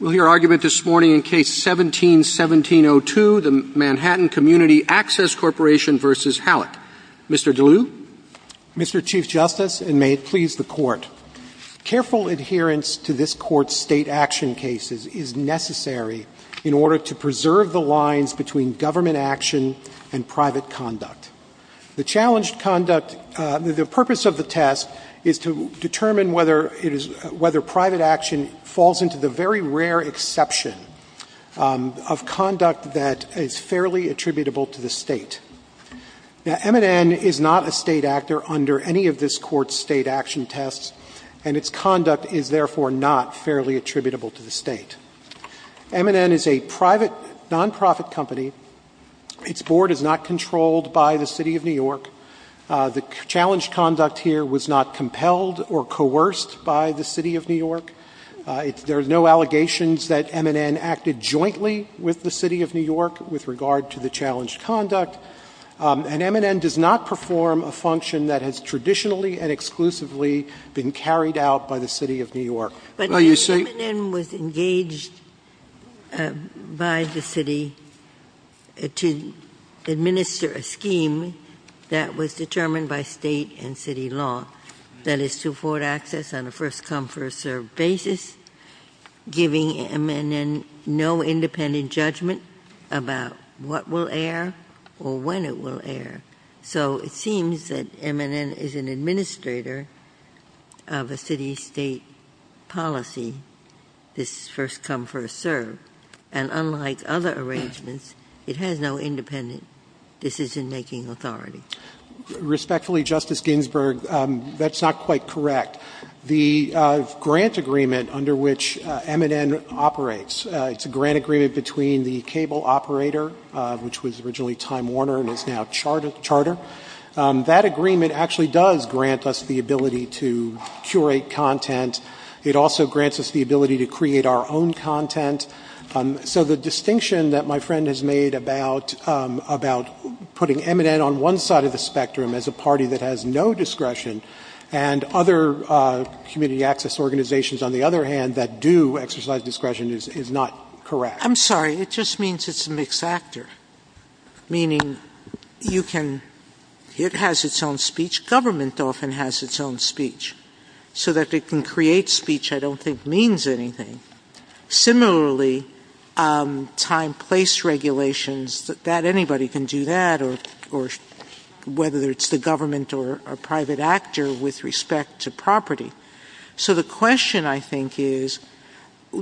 We'll hear argument this morning in Case No. 17-1702, the Manhattan Community Access Corporation v. Halleck. Mr. DeLue? Mr. Chief Justice, and may it please the Court, careful adherence to this Court's state action cases is necessary in order to preserve the lines between government action and private conduct. The purpose of the test is to determine whether private action falls into the very rare exception of conduct that is fairly attributable to the state. Now, M&N is not a state actor under any of this Court's state action tests, and its conduct is therefore not fairly attributable to the state. M&N is a private nonprofit company. Its board is not controlled by the City of New York. The challenged conduct here was not compelled or coerced by the City of New York. There are no allegations that M&N acted jointly with the City of New York with regard to the challenged conduct, and M&N does not perform a function that has traditionally and exclusively been carried out by the City of New York. But M&N was engaged by the city to administer a scheme that was determined by state and city law, that is to afford access on a first-come, first-served basis, giving M&N no independent judgment about what will air or when it will air. So it seems that M&N is an administrator of a city-state policy, this first-come, first-served, and unlike other arrangements, it has no independent decision-making authority. Respectfully, Justice Ginsburg, that's not quite correct. The grant agreement under which M&N operates, it's a grant agreement between the cable operator, which was originally Time Warner and is now Charter. That agreement actually does grant us the ability to curate content. It also grants us the ability to create our own content. So the distinction that my friend has made about putting M&N on one side of the spectrum as a party that has no discretion and other community access organizations, on the other hand, that do exercise discretion is not correct. I'm sorry, it just means it's a mixed actor, meaning you can ‑‑ it has its own speech. Government often has its own speech, so that it can create speech I don't think means anything. Similarly, time, place regulations, that anybody can do that, or whether it's the government or a private actor with respect to property. So the question, I think, is,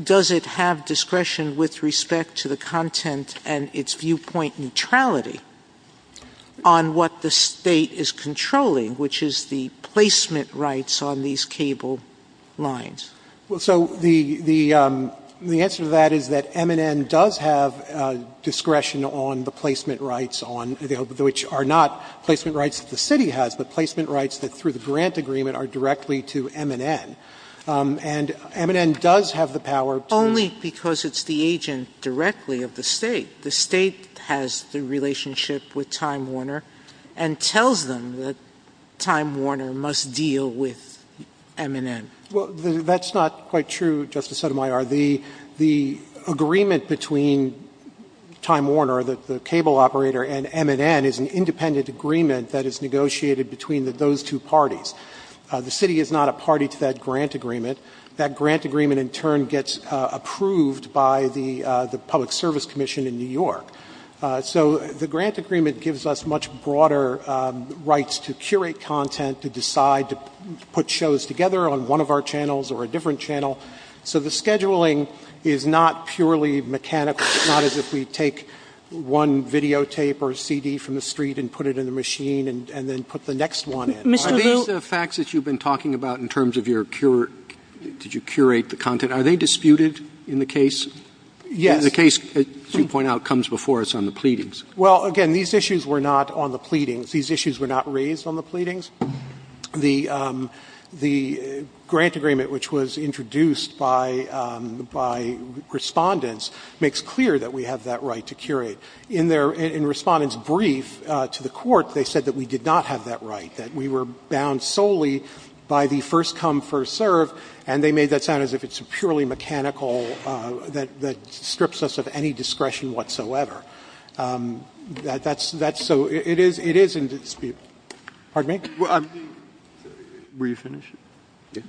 does it have discretion with respect to the content and its viewpoint neutrality on what the State is controlling, which is the placement rights on these cable lines? So the answer to that is that M&N does have discretion on the placement rights, which are not placement rights that the city has, but placement rights that through the grant agreement are directly to M&N. And M&N does have the power to ‑‑ Sotomayor, only because it's the agent directly of the State. The State has the relationship with Time Warner and tells them that Time Warner must deal with M&N. Well, that's not quite true, Justice Sotomayor. The agreement between Time Warner, the cable operator, and M&N is an independent agreement that is negotiated between those two parties. The city is not a party to that grant agreement. That grant agreement in turn gets approved by the Public Service Commission in New York. So the grant agreement gives us much broader rights to curate content, to decide to put shows together on one of our channels or a different channel. So the scheduling is not purely mechanical, not as if we take one videotape or CD from the street and put it in the machine and then put the next one in. Are these the facts that you've been talking about in terms of your ‑‑ did you curate the content? Are they disputed in the case? Yes. The case, as you point out, comes before us on the pleadings. Well, again, these issues were not on the pleadings. These issues were not raised on the pleadings. The grant agreement, which was introduced by Respondents, makes clear that we have that right to curate. But in Respondents' brief to the Court, they said that we did not have that right, that we were bound solely by the first come, first serve, and they made that sound as if it's purely mechanical, that strips us of any discretion whatsoever. That's so ‑‑ it is in dispute. Pardon me? Were you finished? Yes.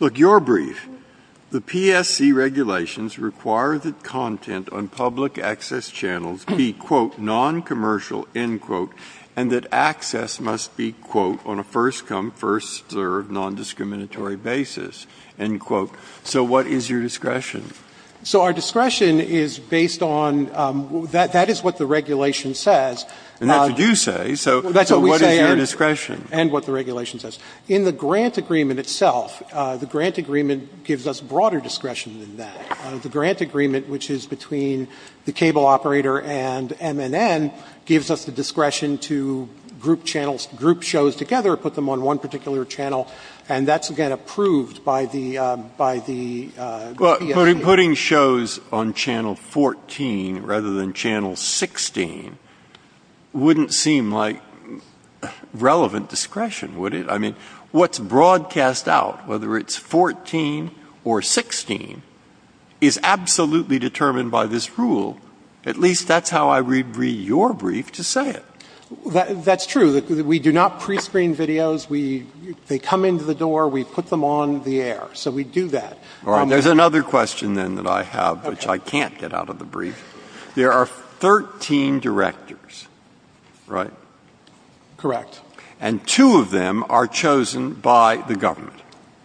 Look, your brief, the PSC regulations require that content on public access channels be, quote, noncommercial, end quote, and that access must be, quote, on a first come, first serve, nondiscriminatory basis, end quote. So what is your discretion? So our discretion is based on ‑‑ that is what the regulation says. And that's what you say. So what is your discretion? And what the regulation says. In the grant agreement itself, the grant agreement gives us broader discretion than that. The grant agreement, which is between the cable operator and MNN, gives us the discretion to group channels, group shows together, put them on one particular channel, and that's, again, approved by the ‑‑ So putting shows on channel 14 rather than channel 16 wouldn't seem like relevant discretion, would it? I mean, what's broadcast out, whether it's 14 or 16, is absolutely determined by this rule. At least that's how I would read your brief to say it. That's true. We do not prescreen videos. They come into the door. We put them on the air. So we do that. All right. There's another question, then, that I have, which I can't get out of the brief. There are 13 directors, right? Correct. And two of them are chosen by the government.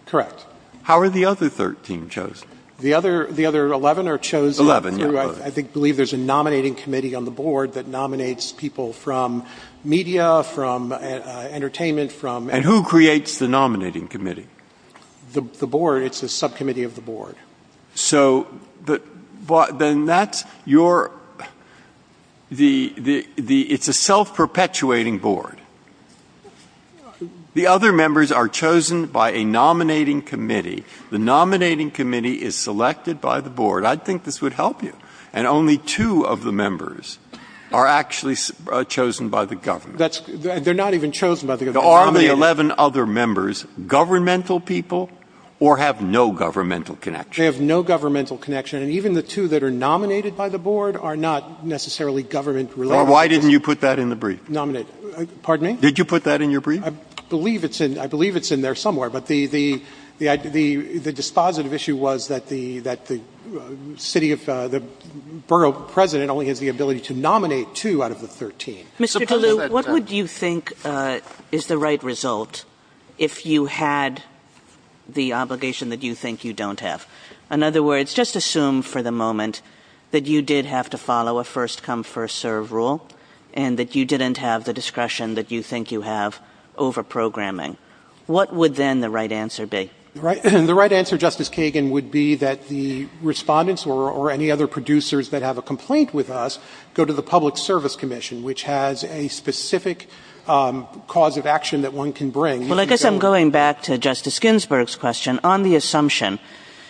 Correct. How are the other 13 chosen? The other 11 are chosen through, I believe, there's a nominating committee on the board that nominates people from media, from entertainment, from ‑‑ And who creates the nominating committee? The board. It's a subcommittee of the board. So then that's your ‑‑ it's a self‑perpetuating board. The other members are chosen by a nominating committee. The nominating committee is selected by the board. I think this would help you. And only two of the members are actually chosen by the government. They're not even chosen by the government. So are the 11 other members governmental people or have no governmental connection? They have no governmental connection. And even the two that are nominated by the board are not necessarily government related. Why didn't you put that in the brief? Nominate. Pardon me? Did you put that in your brief? I believe it's in there somewhere. But the dispositive issue was that the city of ‑‑ the borough president only has the ability to nominate two out of the 13. Mr. Tallulah, what would you think is the right result if you had the obligation that you think you don't have? In other words, just assume for the moment that you did have to follow a first come, first serve rule and that you didn't have the discretion that you think you have over programming. What would then the right answer be? The right answer, Justice Kagan, would be that the respondents or any other producers that have a complaint with us go to the public service commission, which has a specific cause of action that one can bring. Well, I guess I'm going back to Justice Ginsburg's question. On the assumption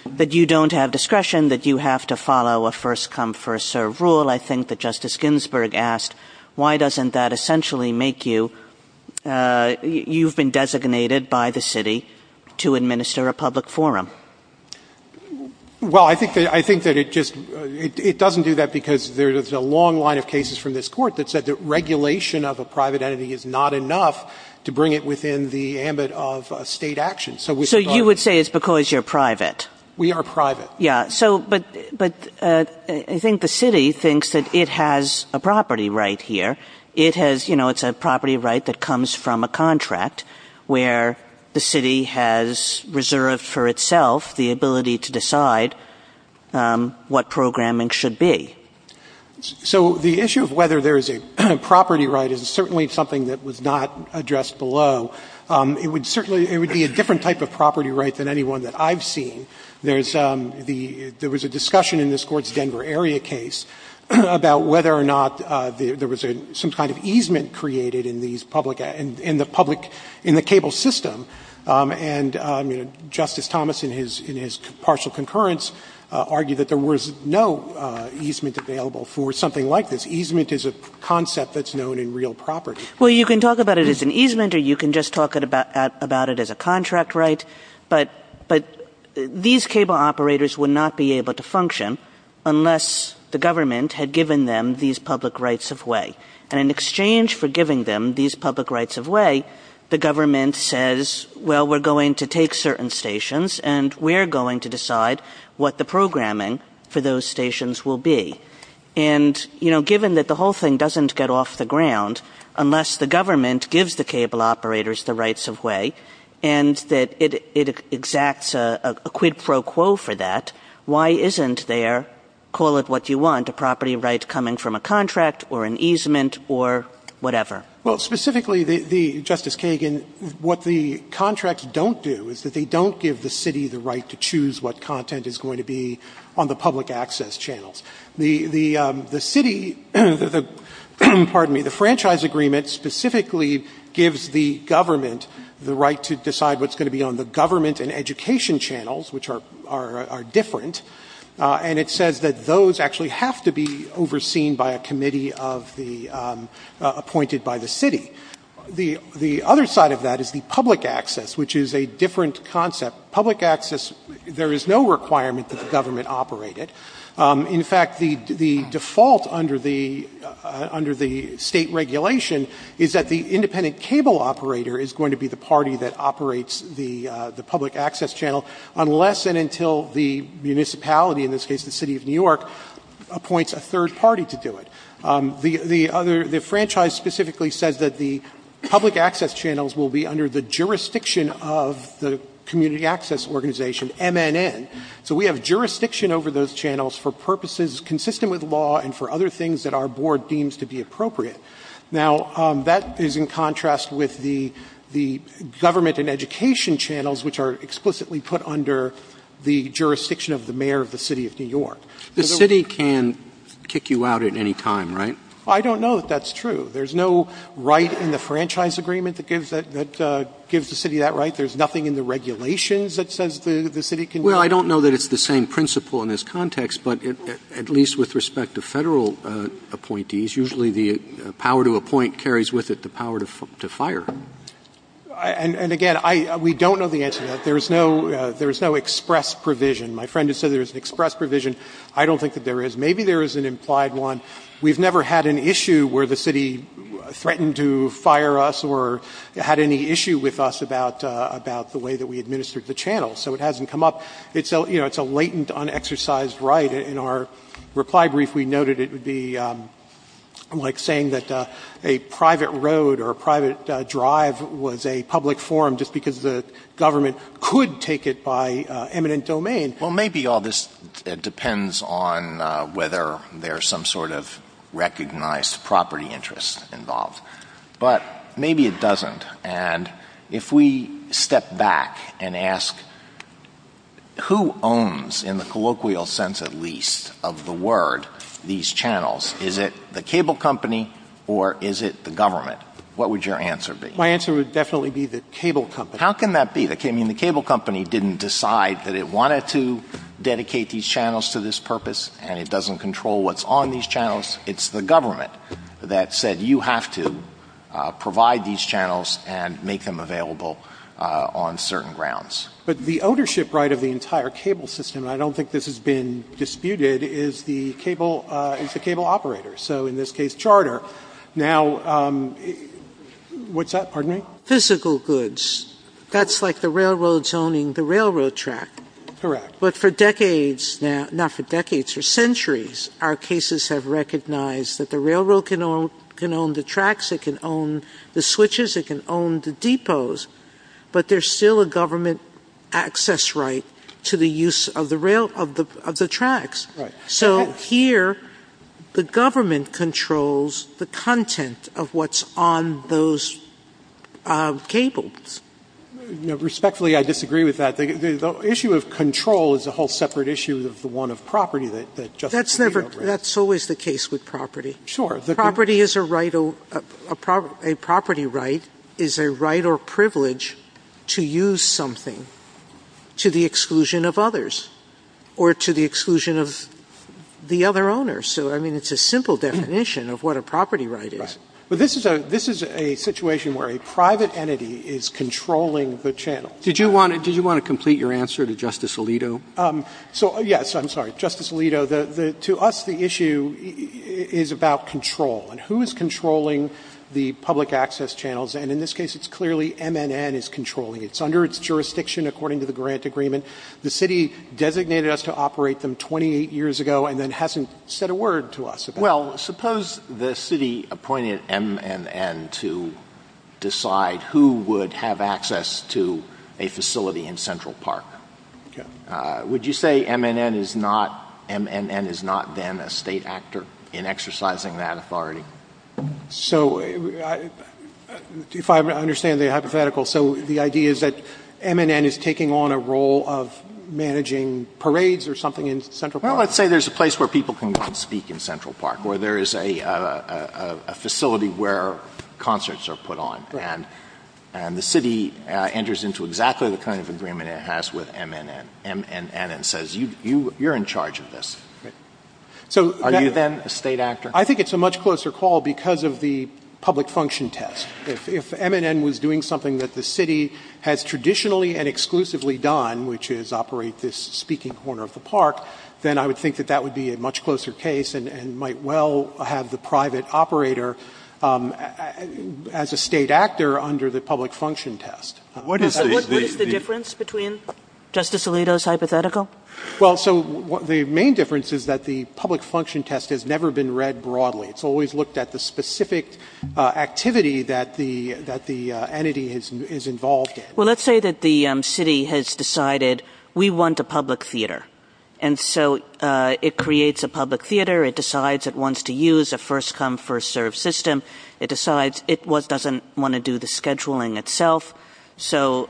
that you don't have discretion, that you have to follow a first come, first serve rule, I think that Justice Ginsburg asked, why doesn't that essentially make you ‑‑ you've been designated by the city to administer a public forum? Well, I think that it just ‑‑ it doesn't do that because there's a long line of cases from this Court that said that regulation of a private entity is not enough to bring it within the ambit of State action. So with regard to ‑‑ So you would say it's because you're private? We are private. Yeah. So, but I think the city thinks that it has a property right here. It has, you know, it's a property right that comes from a contract where the city has reserved for itself the ability to decide what programming should be. So the issue of whether there's a property right is certainly something that was not addressed below. It would certainly ‑‑ it would be a different type of property right than any one that I've seen. There's the ‑‑ there was a discussion in this Court's Denver area case about whether or not there was some kind of easement created in these public ‑‑ in the public ‑‑ in the cable system. And, you know, Justice Thomas in his partial concurrence argued that there was no easement available for something like this. Easement is a concept that's known in real property. Well, you can talk about it as an easement or you can just talk about it as a contract right, but these cable operators would not be able to function unless the government had given them these public rights of way. And in exchange for giving them these public rights of way, the government says, well, we're going to take certain stations and we're going to decide what the programming for those stations will be. And, you know, given that the whole thing doesn't get off the ground unless the government gives the cable operators the rights of way and that it exacts a quid pro quo for that, why isn't there, call it what you want, a property right coming from a government or whatever? Well, specifically, Justice Kagan, what the contracts don't do is that they don't give the city the right to choose what content is going to be on the public access channels. The city ‑‑ pardon me, the franchise agreement specifically gives the government the right to decide what's going to be on the government and education channels, which are different, and it says that those actually have to be overseen by a committee of the ‑‑ appointed by the city. The other side of that is the public access, which is a different concept. Public access, there is no requirement that the government operate it. In fact, the default under the State regulation is that the independent cable operator is going to be the party that operates the public access channel unless and until the municipality, in this case the City of New York, appoints a third party to do it. The other ‑‑ the franchise specifically says that the public access channels will be under the jurisdiction of the community access organization, MNN. So we have jurisdiction over those channels for purposes consistent with law and for other things that our board deems to be appropriate. Now, that is in contrast with the government and education channels, which are explicitly put under the jurisdiction of the mayor of the City of New York. The city can kick you out at any time, right? I don't know that that's true. There is no right in the franchise agreement that gives the city that right. There is nothing in the regulations that says the city can do that. Well, I don't know that it's the same principle in this context, but at least with respect to Federal appointees, usually the power to appoint carries with it the power to fire. And again, we don't know the answer to that. There is no express provision. My friend has said there is an express provision. I don't think that there is. Maybe there is an implied one. We have never had an issue where the city threatened to fire us or had any issue with us about the way that we administered the channels. So it hasn't come up. It's a latent, unexercised right. In our reply brief, we noted it would be like saying that a private road or a private drive was a public forum just because the government could take it by eminent domain. Well, maybe all this depends on whether there is some sort of recognized property interest involved. But maybe it doesn't. And if we step back and ask, who owns, in the colloquial sense at least, of the word, these channels? Is it the cable company or is it the government? What would your answer be? My answer would definitely be the cable company. How can that be? I mean, the cable company didn't decide that it wanted to dedicate these channels to this purpose and it doesn't control what's on these channels. It's the government that said you have to provide these channels and make them available on certain grounds. But the ownership right of the entire cable system, and I don't think this has been disputed, is the cable operator. So in this case, charter. Now, what's that? Pardon me? Physical goods. That's like the railroad zoning the railroad track. Correct. But for decades now, not for decades, for centuries, our cases have recognized that the railroad can own the tracks, it can own the switches, it can own the depots, but there's still a government access right to the use of the tracks. Right. So here, the government controls the content of what's on those cables. Respectfully, I disagree with that. The issue of control is a whole separate issue of the one of property that Justice Scalia raised. That's always the case with property. Sure. Property is a right, a property right is a right or privilege to use something to the exclusion of others or to the exclusion of the other owner. So, I mean, it's a simple definition of what a property right is. Right. But this is a situation where a private entity is controlling the channel. Did you want to complete your answer to Justice Alito? So, yes, I'm sorry. Justice Alito, to us, the issue is about control and who is controlling the public access channels. And in this case, it's clearly MNN is controlling it. It's under its jurisdiction according to the grant agreement. The city designated us to operate them 28 years ago and then hasn't said a word to us about it. Well, suppose the city appointed MNN to decide who would have access to a facility in Central Park. Okay. Would you say MNN is not then a state actor in exercising that authority? So, if I understand the hypothetical, so the idea is that MNN is taking on a role of managing parades or something in Central Park? Well, let's say there's a place where people can go and speak in Central Park or there is a facility where concerts are put on. Right. And the city enters into exactly the kind of agreement it has with MNN and says, you're in charge of this. Right. Are you then a state actor? I think it's a much closer call because of the public function test. If MNN was doing something that the city has traditionally and exclusively done, which is operate this speaking corner of the park, then I would think that that would be a much closer case and might well have the private operator as a state actor under the public function test. What is the difference between Justice Alito's hypothetical? Well, so the main difference is that the public function test has never been read broadly. It's always looked at the specific activity that the entity is involved in. Well, let's say that the city has decided we want a public theater. And so it creates a public theater. It decides it wants to use a first-come, first-served system. It decides it doesn't want to do the scheduling itself. So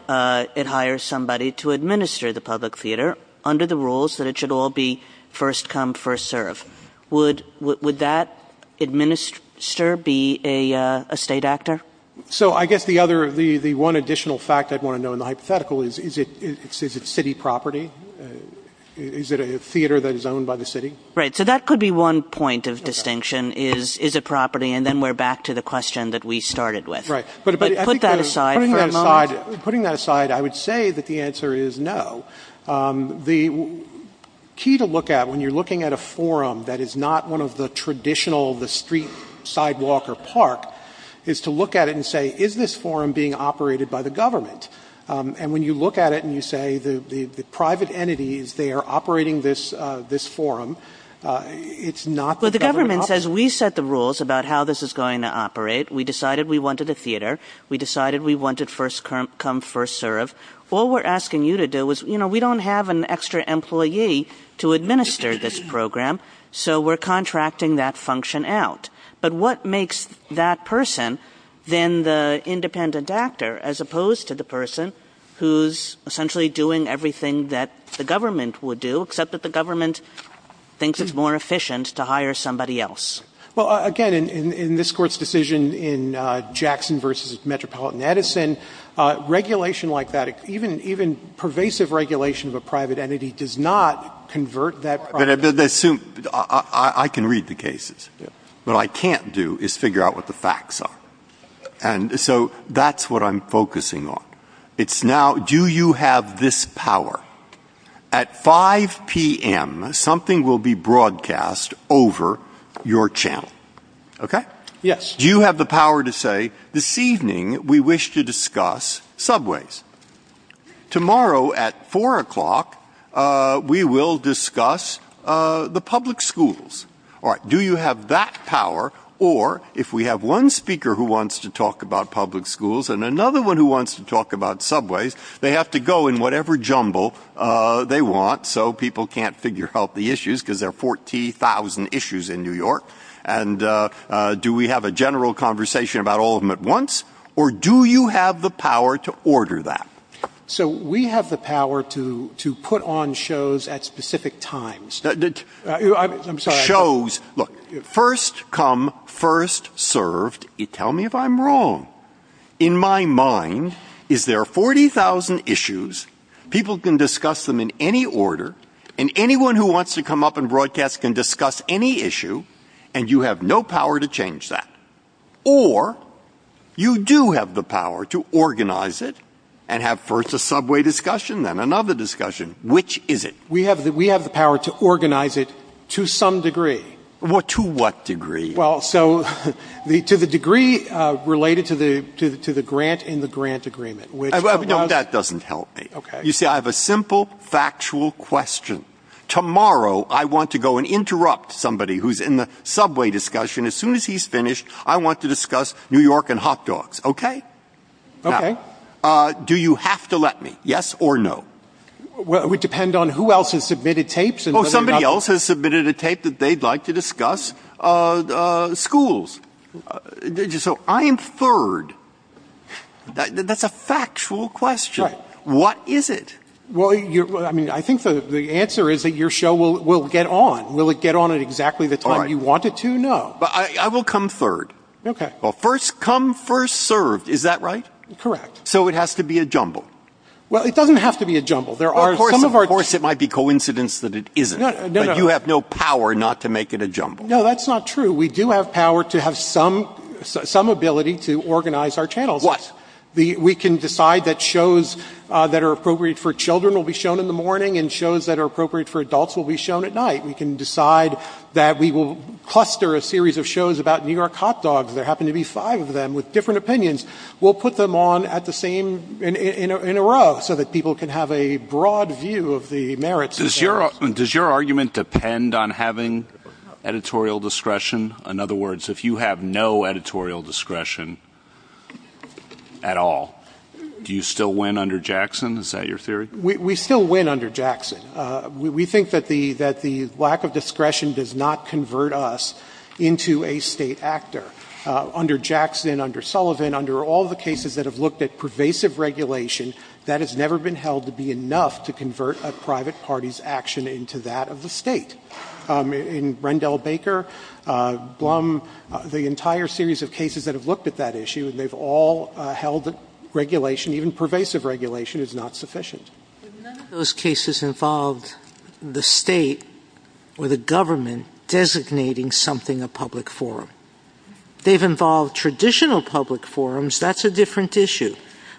it hires somebody to administer the public theater under the rules that it should all be first-come, first-served. Would that administer be a state actor? So I guess the other, the one additional fact I'd want to know in the hypothetical is, is it city property? Is it a theater that is owned by the city? Right. So that could be one point of distinction is, is it property? And then we're back to the question that we started with. Right. But put that aside for a moment. Putting that aside, I would say that the answer is no. The key to look at when you're looking at a forum that is not one of the traditional, the street, sidewalk, or park, is to look at it and say, is this forum being operated by the government? And when you look at it and you say the private entity is there operating this forum, it's not the government. Well, the government says, we set the rules about how this is going to operate. We decided we wanted a theater. We decided we wanted first come, first serve. All we're asking you to do is, you know, we don't have an extra employee to administer this program, so we're contracting that function out. But what makes that person then the independent actor as opposed to the person who's essentially doing everything that the government would do, except that the government thinks it's more efficient to hire somebody else? Well, again, in this Court's decision in Jackson v. Metropolitan Edison, regulation like that, even pervasive regulation of a private entity does not convert that private entity. I can read the cases. What I can't do is figure out what the facts are. And so that's what I'm focusing on. It's now, do you have this power? At 5 p.m., something will be broadcast over your channel. Okay? Yes. Do you have the power to say, this evening we wish to discuss subways? Tomorrow at 4 o'clock, we will discuss the public schools. All right. Do you have that power? Or if we have one speaker who wants to talk about public schools and another one who wants to talk about whatever jumble they want so people can't figure out the issues because there are 40,000 issues in New York. And do we have a general conversation about all of them at once? Or do you have the power to order that? So we have the power to put on shows at specific times. I'm sorry. Shows. Look, first come, first served. Tell me if I'm wrong. In my mind, is there 40,000 issues, people can discuss them in any order, and anyone who wants to come up and broadcast can discuss any issue, and you have no power to change that. Or you do have the power to organize it and have first a subway discussion, then another discussion. Which is it? We have the power to organize it to some degree. To what degree? Well, so to the degree related to the grant in the grant agreement. No, that doesn't help me. Okay. You see, I have a simple factual question. Tomorrow I want to go and interrupt somebody who's in the subway discussion. As soon as he's finished, I want to discuss New York and hot dogs. Okay? Okay. Now, do you have to let me? Yes or no? Well, it would depend on who else has submitted tapes. Oh, somebody else has submitted a tape that they'd like to discuss schools. So I am third. That's a factual question. Right. What is it? Well, I mean, I think the answer is that your show will get on. Will it get on at exactly the time you want it to? No. But I will come third. Okay. Well, first come, first served. Is that right? Correct. So it has to be a jumble. Well, it doesn't have to be a jumble. Of course it might be coincidence that it isn't. But you have no power not to make it a jumble. No, that's not true. We do have power to have some ability to organize our channels. What? We can decide that shows that are appropriate for children will be shown in the morning and shows that are appropriate for adults will be shown at night. We can decide that we will cluster a series of shows about New York hot dogs. There happen to be five of them with different opinions. We'll put them on at the same in a row so that people can have a broad view of the merits. Does your argument depend on having editorial discretion? In other words, if you have no editorial discretion at all, do you still win under Jackson? Is that your theory? We still win under Jackson. We think that the lack of discretion does not convert us into a state actor. Under Jackson, under Sullivan, under all the cases that have looked at pervasive regulation, that has never been held to be enough to convert a private party's action into that of the State. In Rendell Baker, Blum, the entire series of cases that have looked at that issue and they've all held that regulation, even pervasive regulation, is not sufficient. But none of those cases involved the State or the government designating something a public forum. They've involved traditional public forums. That's a different issue.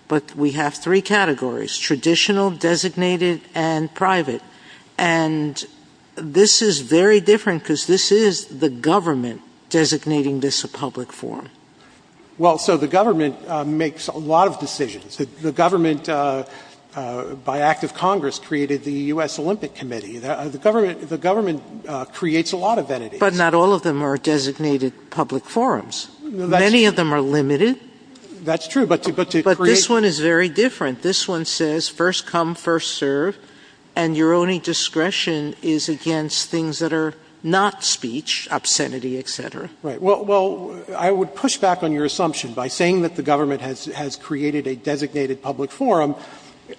But we have three categories, traditional, designated, and private. And this is very different because this is the government designating this a public forum. Well, so the government makes a lot of decisions. The government, by act of Congress, created the U.S. Olympic Committee. The government creates a lot of entities. But not all of them are designated public forums. Many of them are limited. That's true, but to create But this one is very different. This one says first come, first serve, and your only discretion is against things that are not speech, obscenity, et cetera. Right. Well, I would push back on your assumption by saying that the government has created a designated public forum.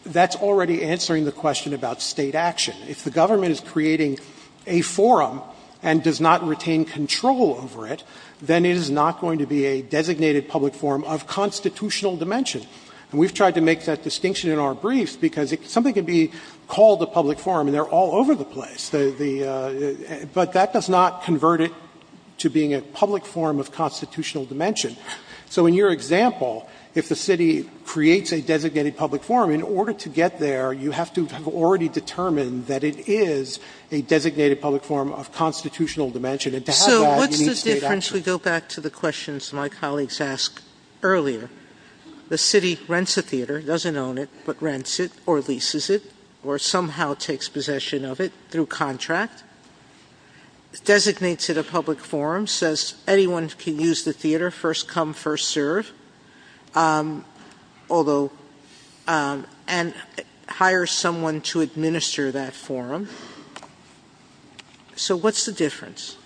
That's already answering the question about State action. If the government is creating a forum and does not retain control over it, then it is not going to be a designated public forum of constitutional dimension. And we've tried to make that distinction in our briefs because something can be called a public forum and they're all over the place. But that does not convert it to being a public forum of constitutional dimension. So in your example, if the city creates a designated public forum, in order to get there, you have to have already determined that it is a designated public forum of constitutional dimension. And to have that, you need State action. So what's the difference? We go back to the questions my colleagues asked earlier. The city rents a theater, doesn't own it, but rents it or leases it or somehow takes possession of it through contract, designates it a public forum, says anyone can use the theater, first come, first serve. Although, and hires someone to administer that forum. So what's the difference?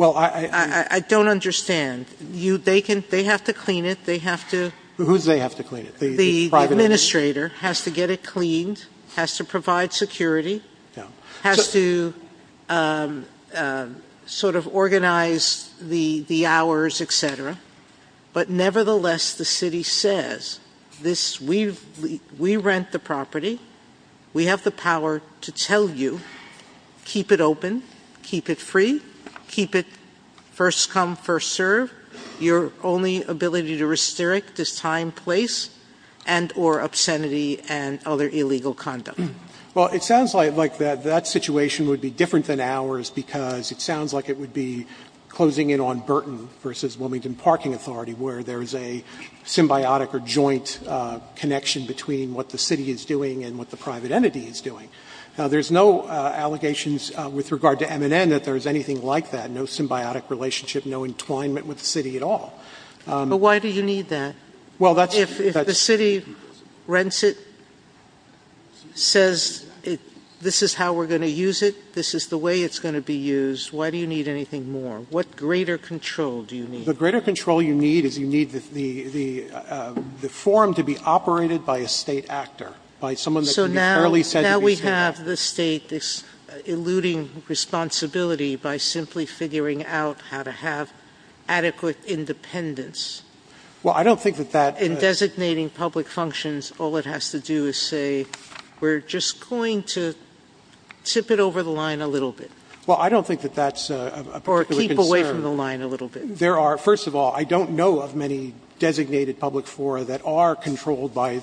I don't understand. They have to clean it. They have to. The administrator has to get it cleaned, has to provide security, has to sort of organize the hours, et cetera. But nevertheless, the city says this, we rent the property, we have the power to tell you, keep it open, keep it free, keep it first come, first serve. Your only ability to restrict is time, place, and or obscenity and other illegal conduct. Well, it sounds like that situation would be different than ours because it sounds like it would be closing in on Burton versus Wilmington Parking Authority where there's a symbiotic or joint connection between what the city is doing and what the private entity is doing. Now, there's no allegations with regard to M&N that there's anything like that, no symbiotic relationship, no entwinement with the city at all. But why do you need that? Well, that's... If the city rents it, says this is how we're going to use it, this is the way it's going to be used, why do you need anything more? What greater control do you need? The greater control you need is you need the forum to be operated by a State actor, by someone that can be fairly said to be State. So now we have the State, this eluding responsibility by simply figuring out how to have adequate independence. Well, I don't think that that... In designating public functions, all it has to do is say we're just going to tip it over the line a little bit. Well, I don't think that that's a particular concern. Or keep away from the line a little bit. There are, first of all, I don't know of many designated public fora that are controlled by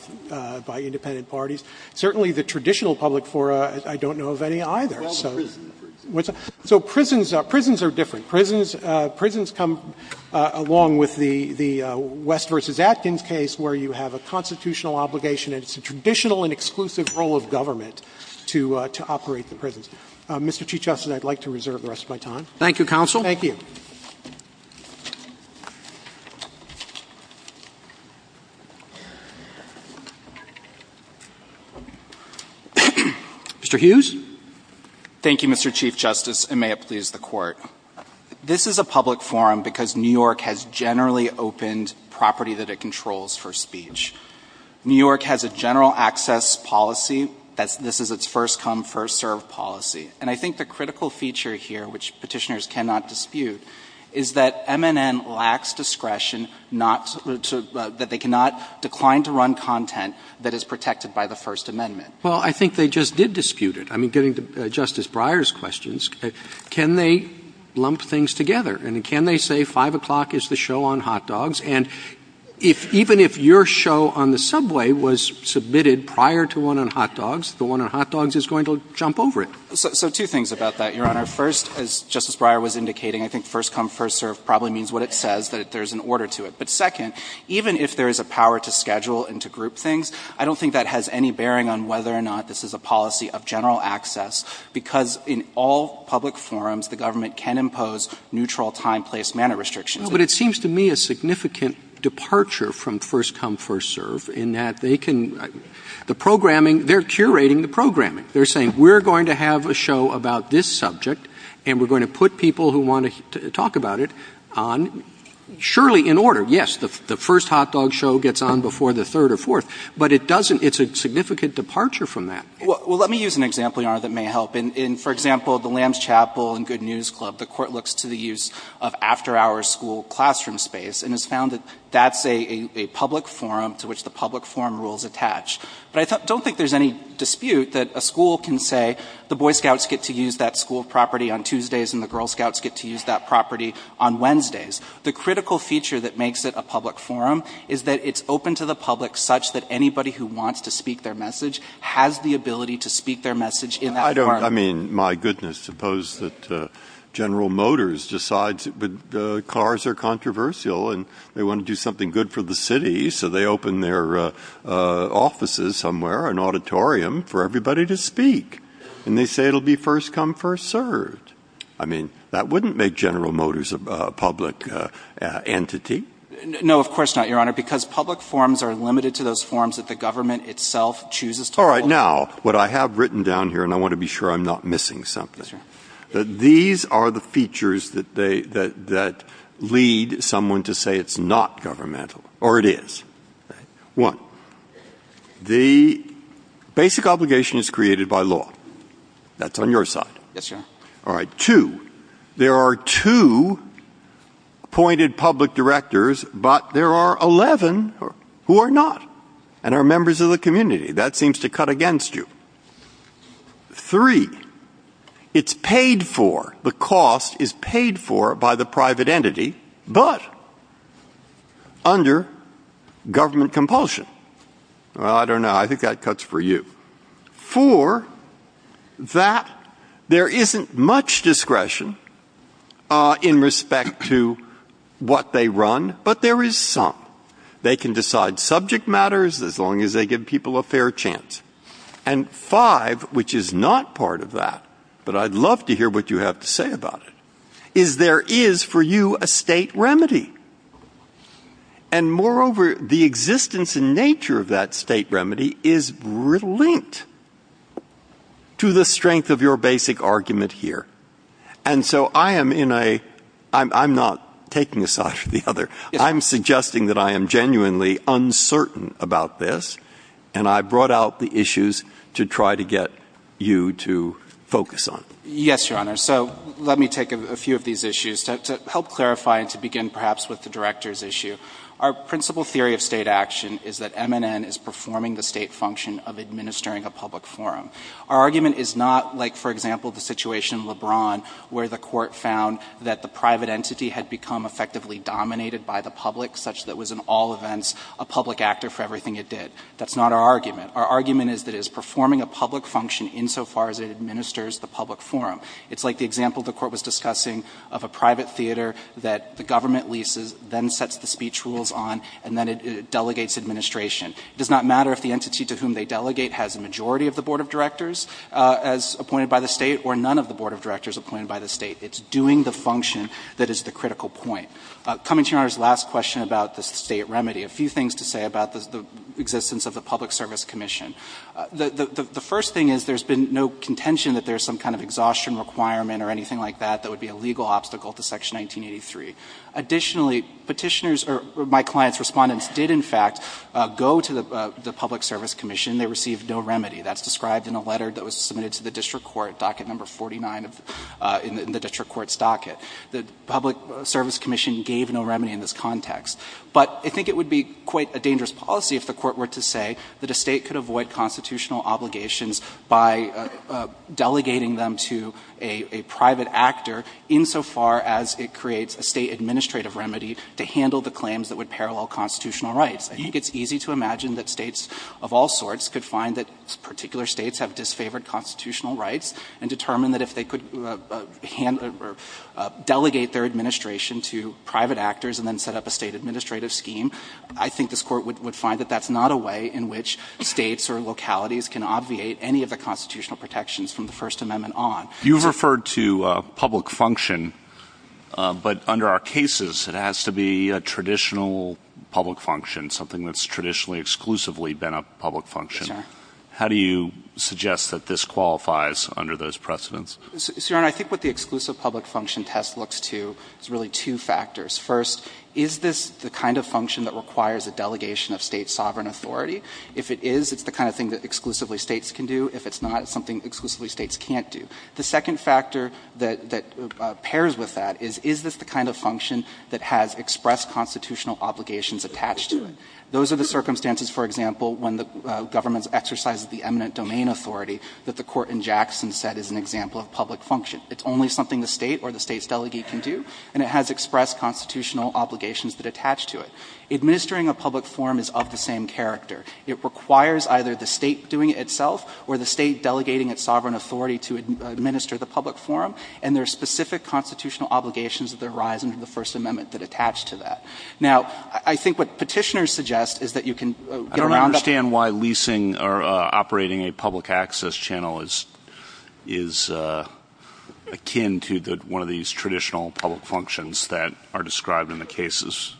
independent parties. Certainly the traditional public fora, I don't know of any either. So prisons are different. Prisons come along with the West v. Atkins case where you have a constitutional obligation and it's a traditional and exclusive role of government to operate the prisons. Mr. Chief Justice, I would like to reserve the rest of my time. Thank you, counsel. Thank you. Mr. Hughes. Thank you, Mr. Chief Justice, and may it please the Court. This is a public forum because New York has generally opened property that it controls for speech. New York has a general access policy. This is its first-come, first-served policy. And I think the critical feature here, which Petitioners cannot dispute, is that MNN lacks discretion, that they cannot decline to run content that is protected by the First Amendment. Well, I think they just did dispute it. I mean, getting to Justice Breyer's questions, can they lump things together? And can they say 5 o'clock is the show on hot dogs? And even if your show on the subway was submitted prior to one on hot dogs, the one on hot dogs is going to jump over it. So two things about that, Your Honor. First, as Justice Breyer was indicating, I think first-come, first-served probably means what it says, that there's an order to it. But second, even if there is a power to schedule and to group things, I don't think that has any bearing on whether or not this is a policy of general access because in all public forums, the government can impose neutral time, place, manner restrictions. Well, but it seems to me a significant departure from first-come, first-served in that they can – the programming, they're curating the programming. They're saying we're going to have a show about this subject and we're going to put people who want to talk about it on surely in order. Yes, the first hot dog show gets on before the third or fourth, but it doesn't – it's a significant departure from that. Well, let me use an example, Your Honor, that may help. In, for example, the Lamb's Chapel and Good News Club, the Court looks to the use of after-hours school classroom space and has found that that's a public forum to which the public forum rules attach. But I don't think there's any dispute that a school can say the Boy Scouts get to use that school property on Tuesdays and the Girl Scouts get to use that property on Wednesdays. The critical feature that makes it a public forum is that it's open to the public such that anybody who wants to speak their message has the ability to speak their message in that – I mean, my goodness, suppose that General Motors decides cars are controversial and they want to do something good for the city, so they open their offices somewhere, an auditorium, for everybody to speak. And they say it'll be first come, first served. I mean, that wouldn't make General Motors a public entity. No, of course not, Your Honor, because public forums are limited to those forums that the government itself chooses to hold. All right, now, what I have written down here, and I want to be sure I'm not missing something, these are the features that lead someone to say it's not governmental, or it is. One, the basic obligation is created by law. That's on your side. Yes, Your Honor. All right. Two, there are two appointed public directors, but there are 11 who are not and are members of the community. That seems to cut against you. Three, it's paid for. The cost is paid for by the private entity, but under government compulsion. Well, I don't know. I think that cuts for you. Four, that there isn't much discretion in respect to what they run, but there is some. They can decide subject matters as long as they give people a fair chance. And five, which is not part of that, but I'd love to hear what you have to say about it, is there is for you a state remedy. And moreover, the existence and nature of that state remedy is linked to the strength of your basic argument here. And so I am in a – I'm not taking a side or the other. I'm suggesting that I am genuinely uncertain about this, and I brought out the issues to try to get you to focus on. Yes, Your Honor. So let me take a few of these issues. To help clarify and to begin perhaps with the director's issue, our principal theory of state action is that MNN is performing the state function of administering a public forum. Our argument is not like, for example, the situation in LeBron where the court found that the private entity had become effectively dominated by the public, such that it was in all events a public actor for everything it did. That's not our argument. Our argument is that it is performing a public function insofar as it administers the public forum. It's like the example the court was discussing of a private theater that the government leases, then sets the speech rules on, and then it delegates administration. It does not matter if the entity to whom they delegate has a majority of the board of directors as appointed by the state or none of the board of directors appointed by the state. It's doing the function that is the critical point. Coming to Your Honor's last question about the state remedy, a few things to say about the existence of the Public Service Commission. The first thing is there has been no contention that there is some kind of exhaustion requirement or anything like that that would be a legal obstacle to Section 1983. Additionally, Petitioners or my client's Respondents did, in fact, go to the Public Service Commission. They received no remedy. That's described in a letter that was submitted to the district court, docket number 49 in the district court's docket. The Public Service Commission gave no remedy in this context. But I think it would be quite a dangerous policy if the court were to say that a state could avoid constitutional obligations by delegating them to a private actor insofar as it creates a state administrative remedy to handle the claims that would parallel constitutional rights. I think it's easy to imagine that states of all sorts could find that particular states have disfavored constitutional rights and determine that if they could hand or delegate their administration to private actors and then set up a state administrative scheme, I think this Court would find that that's not a way in which states or localities can obviate any of the constitutional protections from the First Amendment on. You've referred to public function, but under our cases, it has to be a traditional public function, something that's traditionally exclusively been a public function. How do you suggest that this qualifies under those precedents? So, Your Honor, I think what the exclusive public function test looks to is really two factors. First, is this the kind of function that requires a delegation of state sovereign authority? If it is, it's the kind of thing that exclusively states can do. If it's not, it's something exclusively states can't do. The second factor that pairs with that is, is this the kind of function that has expressed constitutional obligations attached to it? Those are the circumstances, for example, when the government exercises the eminent domain authority that the Court in Jackson said is an example of public function. It's only something the state or the state's delegate can do, and it has expressed constitutional obligations that attach to it. Administering a public forum is of the same character. It requires either the state doing it itself or the state delegating its sovereign authority to administer the public forum, and there are specific constitutional obligations that arise under the First Amendment that attach to that. Now, I think what Petitioner suggests is that you can get around that. I don't understand why leasing or operating a public access channel is akin to one of these traditional public functions that are described in the cases.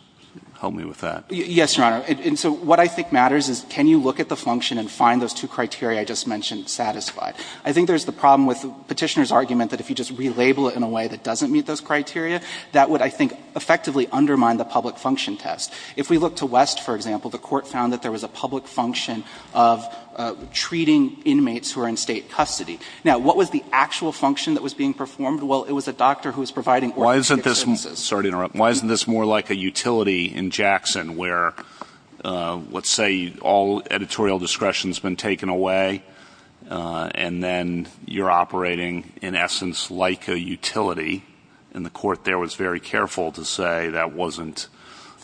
Help me with that. Yes, Your Honor. And so what I think matters is can you look at the function and find those two criteria I just mentioned satisfied? I think there's the problem with Petitioner's argument that if you just relabel it in a way that doesn't meet those criteria, that would, I think, effectively undermine the public function test. If we look to West, for example, the Court found that there was a public function of treating inmates who are in state custody. Now, what was the actual function that was being performed? Well, it was a doctor who was providing orthopedic services. Why isn't this more like a utility in Jackson where, let's say, all editorial discretion has been taken away, and then you're operating, in essence, like a utility? And the Court there was very careful to say that wasn't,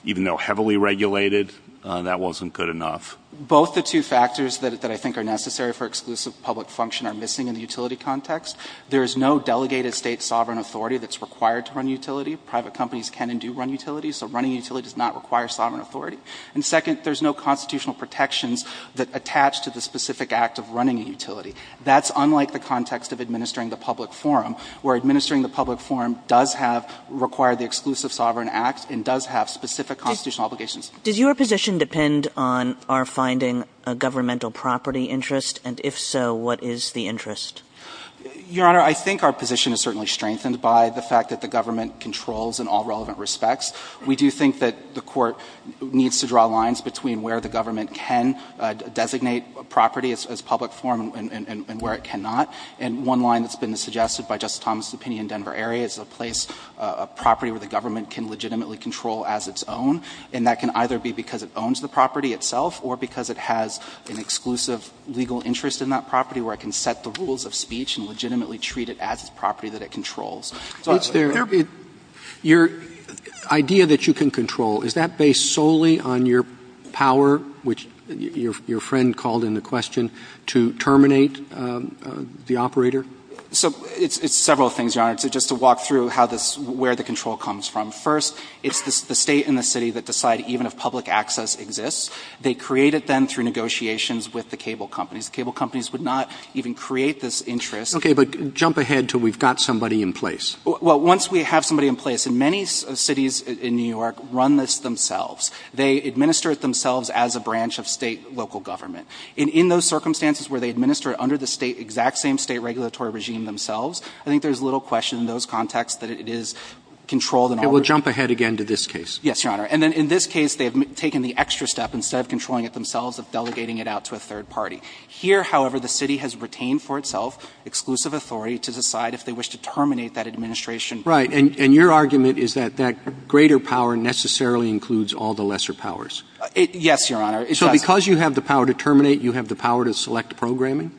even though heavily regulated, that wasn't good enough. Both the two factors that I think are necessary for exclusive public function are missing in the utility context. There is no delegated state sovereign authority that's required to run utility. Private companies can and do run utilities, so running a utility does not require sovereign authority. And second, there's no constitutional protections that attach to the specific act of running a utility. That's unlike the context of administering the public forum, where administering the public forum does have to require the exclusive sovereign act and does have specific constitutional obligations. Kagan. Does your position depend on our finding a governmental property interest? And if so, what is the interest? Your Honor, I think our position is certainly strengthened by the fact that the government controls in all relevant respects. We do think that the Court needs to draw lines between where the government can designate a property as public forum and where it cannot. And one line that's been suggested by Justice Thomas's opinion in Denver area is a place, a property where the government can legitimately control as its own, and that can either be because it owns the property itself or because it has an exclusive legal interest in that property where it can set the rules of speech and legitimately treat it as its property that it controls. Roberts. Your idea that you can control, is that based solely on your power, which your friend called into question, to terminate the operator? So it's several things, Your Honor. Just to walk through how this, where the control comes from. First, it's the State and the City that decide even if public access exists. They create it then through negotiations with the cable companies. The cable companies would not even create this interest. Roberts. Okay. But jump ahead until we've got somebody in place. Well, once we have somebody in place, and many cities in New York run this themselves, they administer it themselves as a branch of State local government. And in those circumstances where they administer it under the State, exact same State regulatory regime themselves, I think there's little question in those contexts that it is controlled in all regions. And we'll jump ahead again to this case. Yes, Your Honor. And then in this case, they've taken the extra step, instead of controlling it themselves, of delegating it out to a third party. Here, however, the City has retained for itself exclusive authority to decide if they wish to terminate that administration. Right. And your argument is that that greater power necessarily includes all the lesser powers. Yes, Your Honor. So because you have the power to terminate, you have the power to select programming?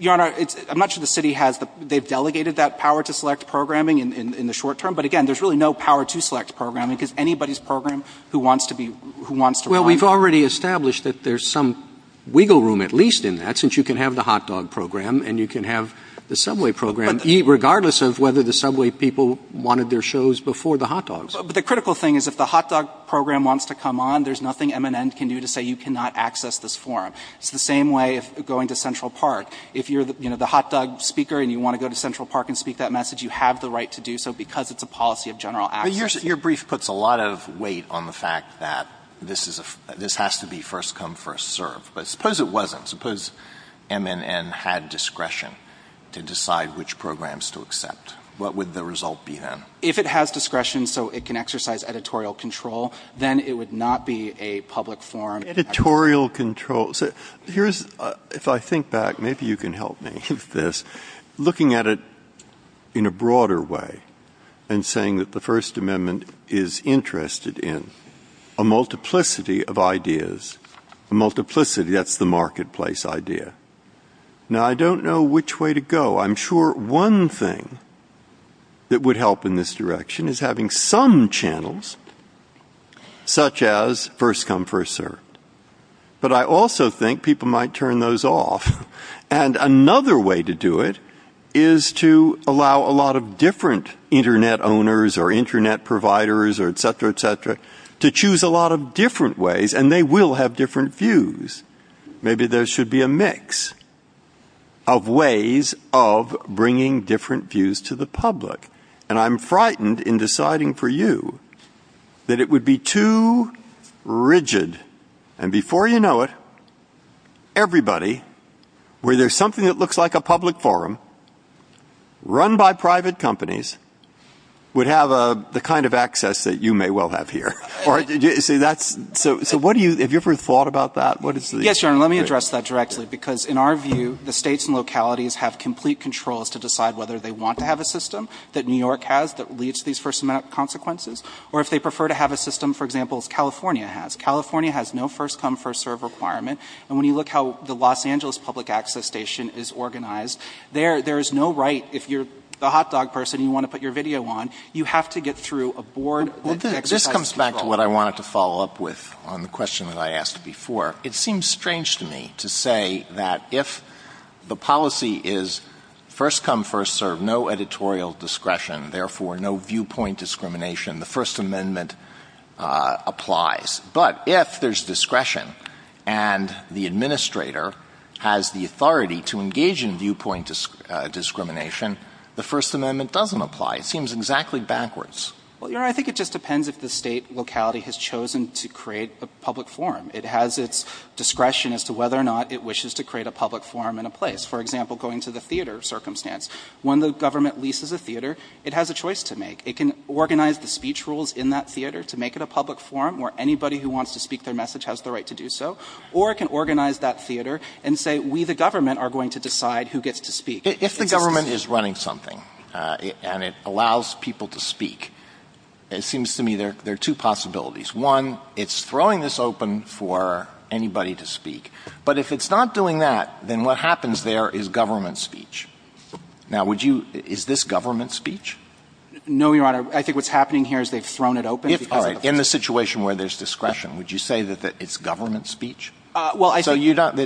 Your Honor, much of the City has the, they've delegated that power to select programming in the short term. But again, there's really no power to select programming because anybody's program who wants to be, who wants to run it. But you've already established that there's some wiggle room, at least in that, since you can have the hot dog program and you can have the subway program regardless of whether the subway people wanted their shows before the hot dogs. But the critical thing is if the hot dog program wants to come on, there's nothing MNN can do to say you cannot access this forum. It's the same way of going to Central Park. If you're, you know, the hot dog speaker and you want to go to Central Park and speak that message, you have the right to do so because it's a policy of general access. But your brief puts a lot of weight on the fact that this has to be first come, first serve. But suppose it wasn't. Suppose MNN had discretion to decide which programs to accept. What would the result be then? If it has discretion so it can exercise editorial control, then it would not be a public forum. Editorial control. So here's, if I think back, maybe you can help me with this, looking at it in a different way. Let's say that MNN is interested in a multiplicity of ideas. A multiplicity. That's the marketplace idea. Now, I don't know which way to go. I'm sure one thing that would help in this direction is having some channels such as first come, first serve. But I also think people might turn those off. And another way to do it is to allow a lot of different Internet owners or Internet providers or et cetera, et cetera, to choose a lot of different ways. And they will have different views. Maybe there should be a mix of ways of bringing different views to the public. And I'm frightened in deciding for you that it would be too rigid. And before you know it, everybody, where there's something that looks like a public forum, run by private companies, would have the kind of access that you may well have here. So have you ever thought about that? Yes, Your Honor. Let me address that directly. Because in our view, the states and localities have complete control as to decide whether they want to have a system that New York has that leads to these first consequences or if they prefer to have a system, for example, as California has. California has no first come, first serve requirement. And when you look how the Los Angeles public access station is organized, there is no right if you're the hot dog person and you want to put your video on, you have to get through a board that exercises control. Well, this comes back to what I wanted to follow up with on the question that I asked before. It seems strange to me to say that if the policy is first come, first serve, no editorial discretion, therefore no viewpoint discrimination, the First Amendment applies. But if there's discretion and the administrator has the authority to engage in viewpoint discrimination, the First Amendment doesn't apply. It seems exactly backwards. Well, Your Honor, I think it just depends if the state locality has chosen to create a public forum. It has its discretion as to whether or not it wishes to create a public forum in a place. For example, going to the theater circumstance. When the government leases a theater, it has a choice to make. It can organize the speech rules in that theater to make it a public forum where anybody who wants to speak their message has the right to do so. Or it can organize that theater and say we, the government, are going to decide who gets to speak. If the government is running something and it allows people to speak, it seems to me there are two possibilities. One, it's throwing this open for anybody to speak. But if it's not doing that, then what happens there is government speech. Now, would you – is this government speech? No, Your Honor. I think what's happening here is they've thrown it open. If – all right. In the situation where there's discretion, would you say that it's government speech? Well, I think – So you don't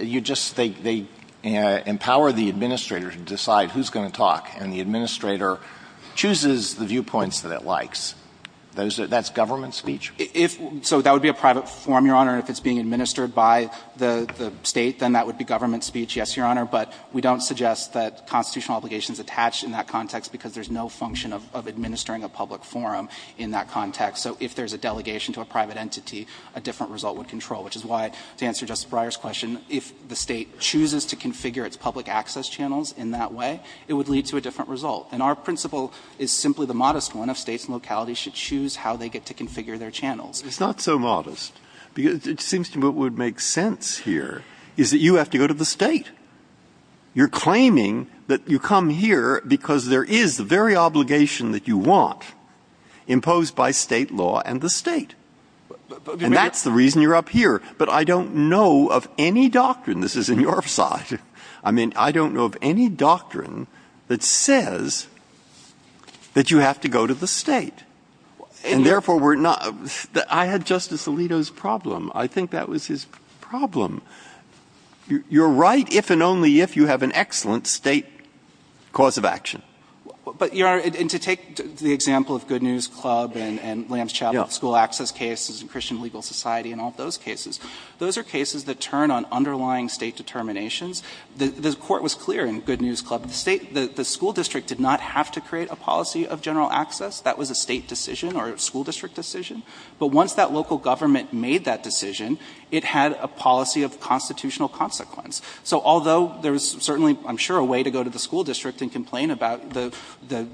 – you just – they empower the administrator to decide who's going to talk. And the administrator chooses the viewpoints that it likes. That's government speech? If – so that would be a private forum, Your Honor, and if it's being administered by the state, then that would be government speech. Yes, Your Honor. But we don't suggest that constitutional obligation is attached in that context because there's no function of administering a public forum in that context. So if there's a delegation to a private entity, a different result would control, which is why, to answer Justice Breyer's question, if the state chooses to configure its public access channels in that way, it would lead to a different result. And our principle is simply the modest one of states and localities should choose how they get to configure their channels. It's not so modest. It seems to me what would make sense here is that you have to go to the state. You're claiming that you come here because there is the very obligation that you want imposed by state law and the state. And that's the reason you're up here. But I don't know of any doctrine – this is in your side – I mean, I don't know of any doctrine that says that you have to go to the state. And therefore, we're not – I had Justice Alito's problem. I think that was his problem. You're right if and only if you have an excellent state cause of action. But, Your Honor, and to take the example of Good News Club and Lambs Chapel school access cases and Christian Legal Society and all those cases, those are cases that turn on underlying state determinations. The Court was clear in Good News Club that the school district did not have to create a policy of general access. That was a state decision or a school district decision. But once that local government made that decision, it had a policy of constitutional consequence. So although there was certainly, I'm sure, a way to go to the school district and complain about the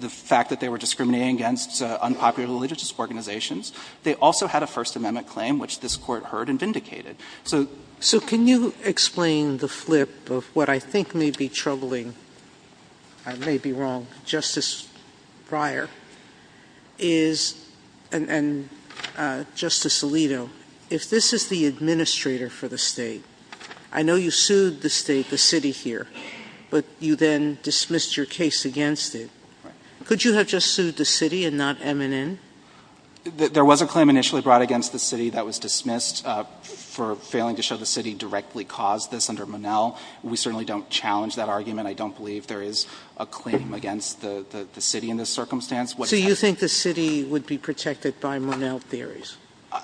fact that they were discriminating against unpopular religious organizations, they also had a First Amendment claim, which this Court heard and vindicated. So – Sotomayor, so can you explain the flip of what I think may be troubling – I may be wrong – Justice Breyer is – and Justice Alito, if this is the administrator for the state, I know you sued the state, the city here, but you then dismissed your case against it. Right. Could you have just sued the city and not MNN? There was a claim initially brought against the city that was dismissed for failing to show the city directly caused this under Monell. We certainly don't challenge that argument. I don't believe there is a claim against the city in this circumstance. So you think the city would be protected by Monell theories?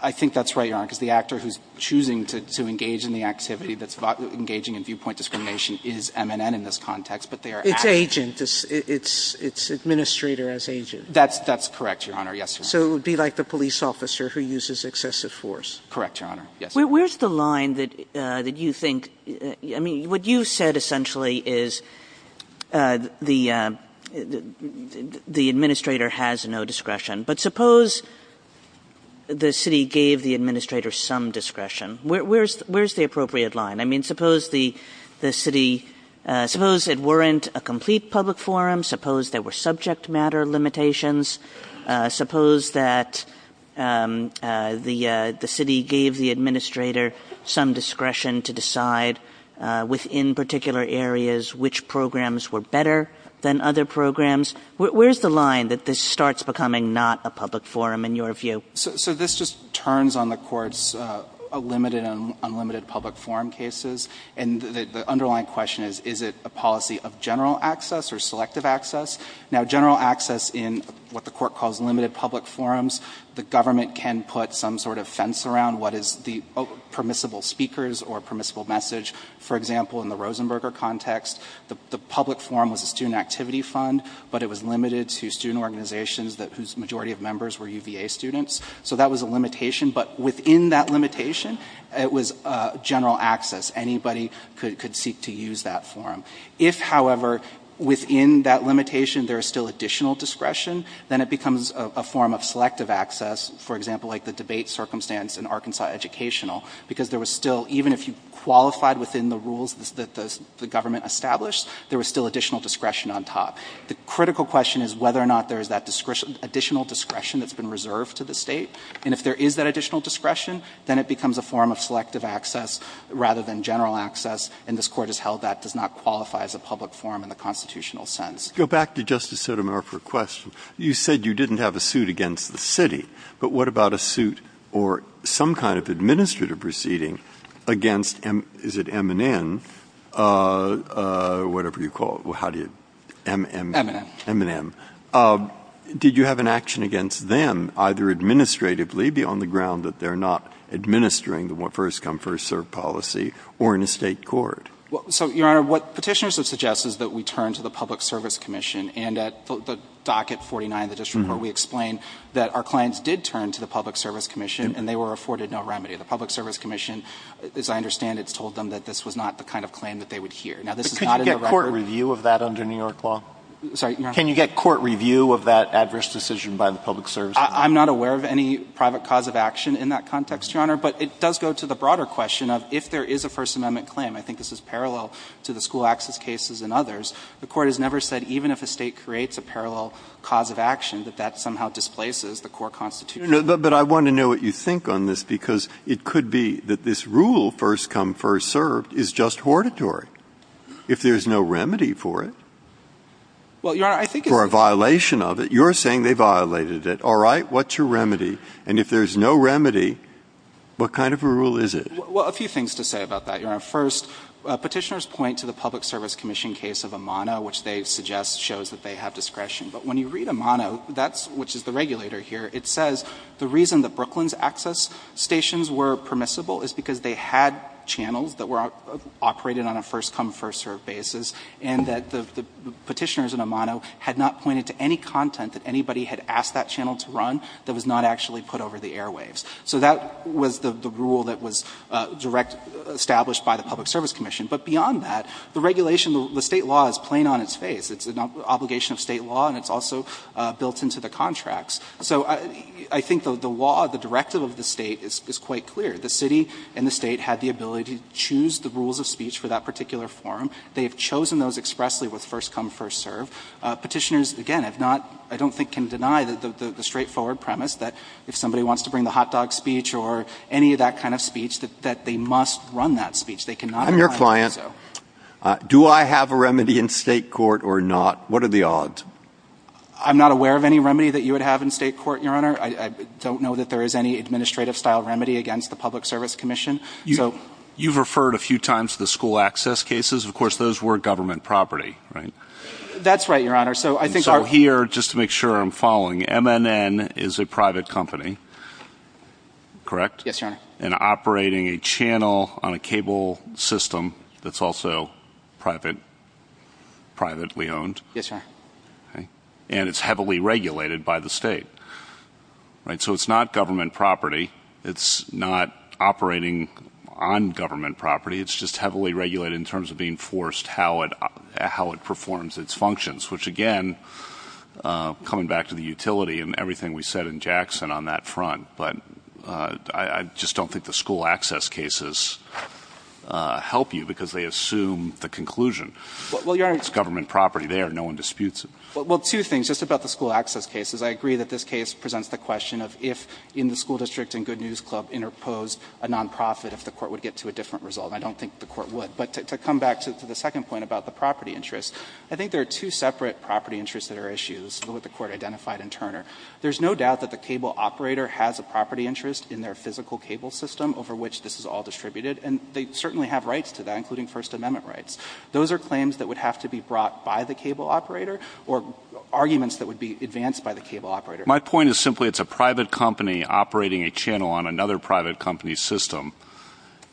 I think that's right, Your Honor, because the actor who's choosing to engage in the activity that's engaging in viewpoint discrimination is MNN in this context, but they are – It's agent. It's administrator as agent. That's correct, Your Honor. Yes, Your Honor. So it would be like the police officer who uses excessive force. Correct, Your Honor. Yes, Your Honor. Where's the line that you think – I mean, what you said essentially is the administrator has no discretion, but suppose the city gave the administrator some discretion. Where's the appropriate line? I mean, suppose the city – suppose it weren't a complete public forum. Suppose there were subject matter limitations. Suppose that the city gave the administrator some discretion to decide within particular areas which programs were better than other programs. Where's the line that this starts becoming not a public forum in your view? So this just turns on the courts a limited and unlimited public forum cases. And the underlying question is, is it a policy of general access or selective access? Now, general access in what the court calls limited public forums, the government can put some sort of fence around what is the permissible speakers or permissible message. For example, in the Rosenberger context, the public forum was a student activity fund, but it was limited to student organizations whose majority of members were UVA students. So that was a limitation. But within that limitation, it was general access. Anybody could seek to use that forum. If, however, within that limitation, there is still additional discretion, then it becomes a form of selective access. For example, like the debate circumstance in Arkansas Educational. Because there was still – even if you qualified within the rules that the government established, there was still additional discretion on top. The critical question is whether or not there is that additional discretion that's been reserved to the State. And if there is that additional discretion, then it becomes a form of selective access rather than general access. And this Court has held that does not qualify as a public forum in the constitutional sense. Breyer. Go back to Justice Sotomayor for a question. You said you didn't have a suit against the City. But what about a suit or some kind of administrative proceeding against – is it M&N or whatever you call it? How do you – M&M? M&M. M&M. Did you have an action against them, either administratively, beyond the ground that they're not administering the first-come, first-served policy, or in a State court? So, Your Honor, what Petitioner suggests is that we turn to the Public Service Commission. And at the docket 49 of the district court, we explain that our clients did turn to the Public Service Commission, and they were afforded no remedy. The Public Service Commission, as I understand it, has told them that this was not the kind of claim that they would hear. Now, this is not in the record. But could you get court review of that under New York law? Sorry, Your Honor? Can you get court review of that adverse decision by the Public Service Commission? I'm not aware of any private cause of action in that context, Your Honor. But it does go to the broader question of if there is a First Amendment claim. I think this is parallel to the school access cases and others. The Court has never said even if a State creates a parallel cause of action, that that somehow displaces the core constitution. But I want to know what you think on this, because it could be that this rule, first-come, first-served, is just hortatory, if there's no remedy for it. Well, Your Honor, I think it's the same. For a violation of it. You're saying they violated it. All right. What's your remedy? And if there's no remedy, what kind of a rule is it? Well, a few things to say about that, Your Honor. First, Petitioners point to the Public Service Commission case of Amano, which they suggest shows that they have discretion. But when you read Amano, which is the regulator here, it says the reason that Brooklyn's access stations were permissible is because they had channels that were operated on a first-come, first-served basis, and that the Petitioners in Amano had not pointed to any content that anybody had asked that channel to run that was not actually put over the airwaves. So that was the rule that was direct established by the Public Service Commission. But beyond that, the regulation, the State law is plain on its face. It's an obligation of State law, and it's also built into the contracts. So I think the law, the directive of the State is quite clear. The City and the State had the ability to choose the rules of speech for that particular forum. They have chosen those expressly with first-come, first-served. Petitioners, again, have not, I don't think, can deny the straightforward premise that if somebody wants to bring the hot dog speech or any of that kind of speech, that they must run that speech. They cannot decline to do so. I'm your client. Do I have a remedy in State court or not? What are the odds? I'm not aware of any remedy that you would have in State court, Your Honor. I don't know that there is any administrative-style remedy against the Public Service Commission. You've referred a few times to the school access cases. Of course, those were government property, right? That's right, Your Honor. So here, just to make sure I'm following, MNN is a private company, correct? Yes, Your Honor. And operating a channel on a cable system that's also privately owned? Yes, Your Honor. And it's heavily regulated by the State, right? So it's not government property. It's not operating on government property. It's just heavily regulated in terms of being forced how it performs its functions, which, again, coming back to the utility and everything we said in Jackson on that front, but I just don't think the school access cases help you because they assume the conclusion. It's government property there. No one disputes it. Well, two things. Just about the school access cases, I agree that this case presents the question of if in the school district and Good News Club interpose a nonprofit, if the But to come back to the second point about the property interest, I think there are two separate property interests that are issues with what the Court identified in Turner. There's no doubt that the cable operator has a property interest in their physical cable system over which this is all distributed, and they certainly have rights to that, including First Amendment rights. Those are claims that would have to be brought by the cable operator or arguments that would be advanced by the cable operator. My point is simply it's a private company operating a channel on another private company's system,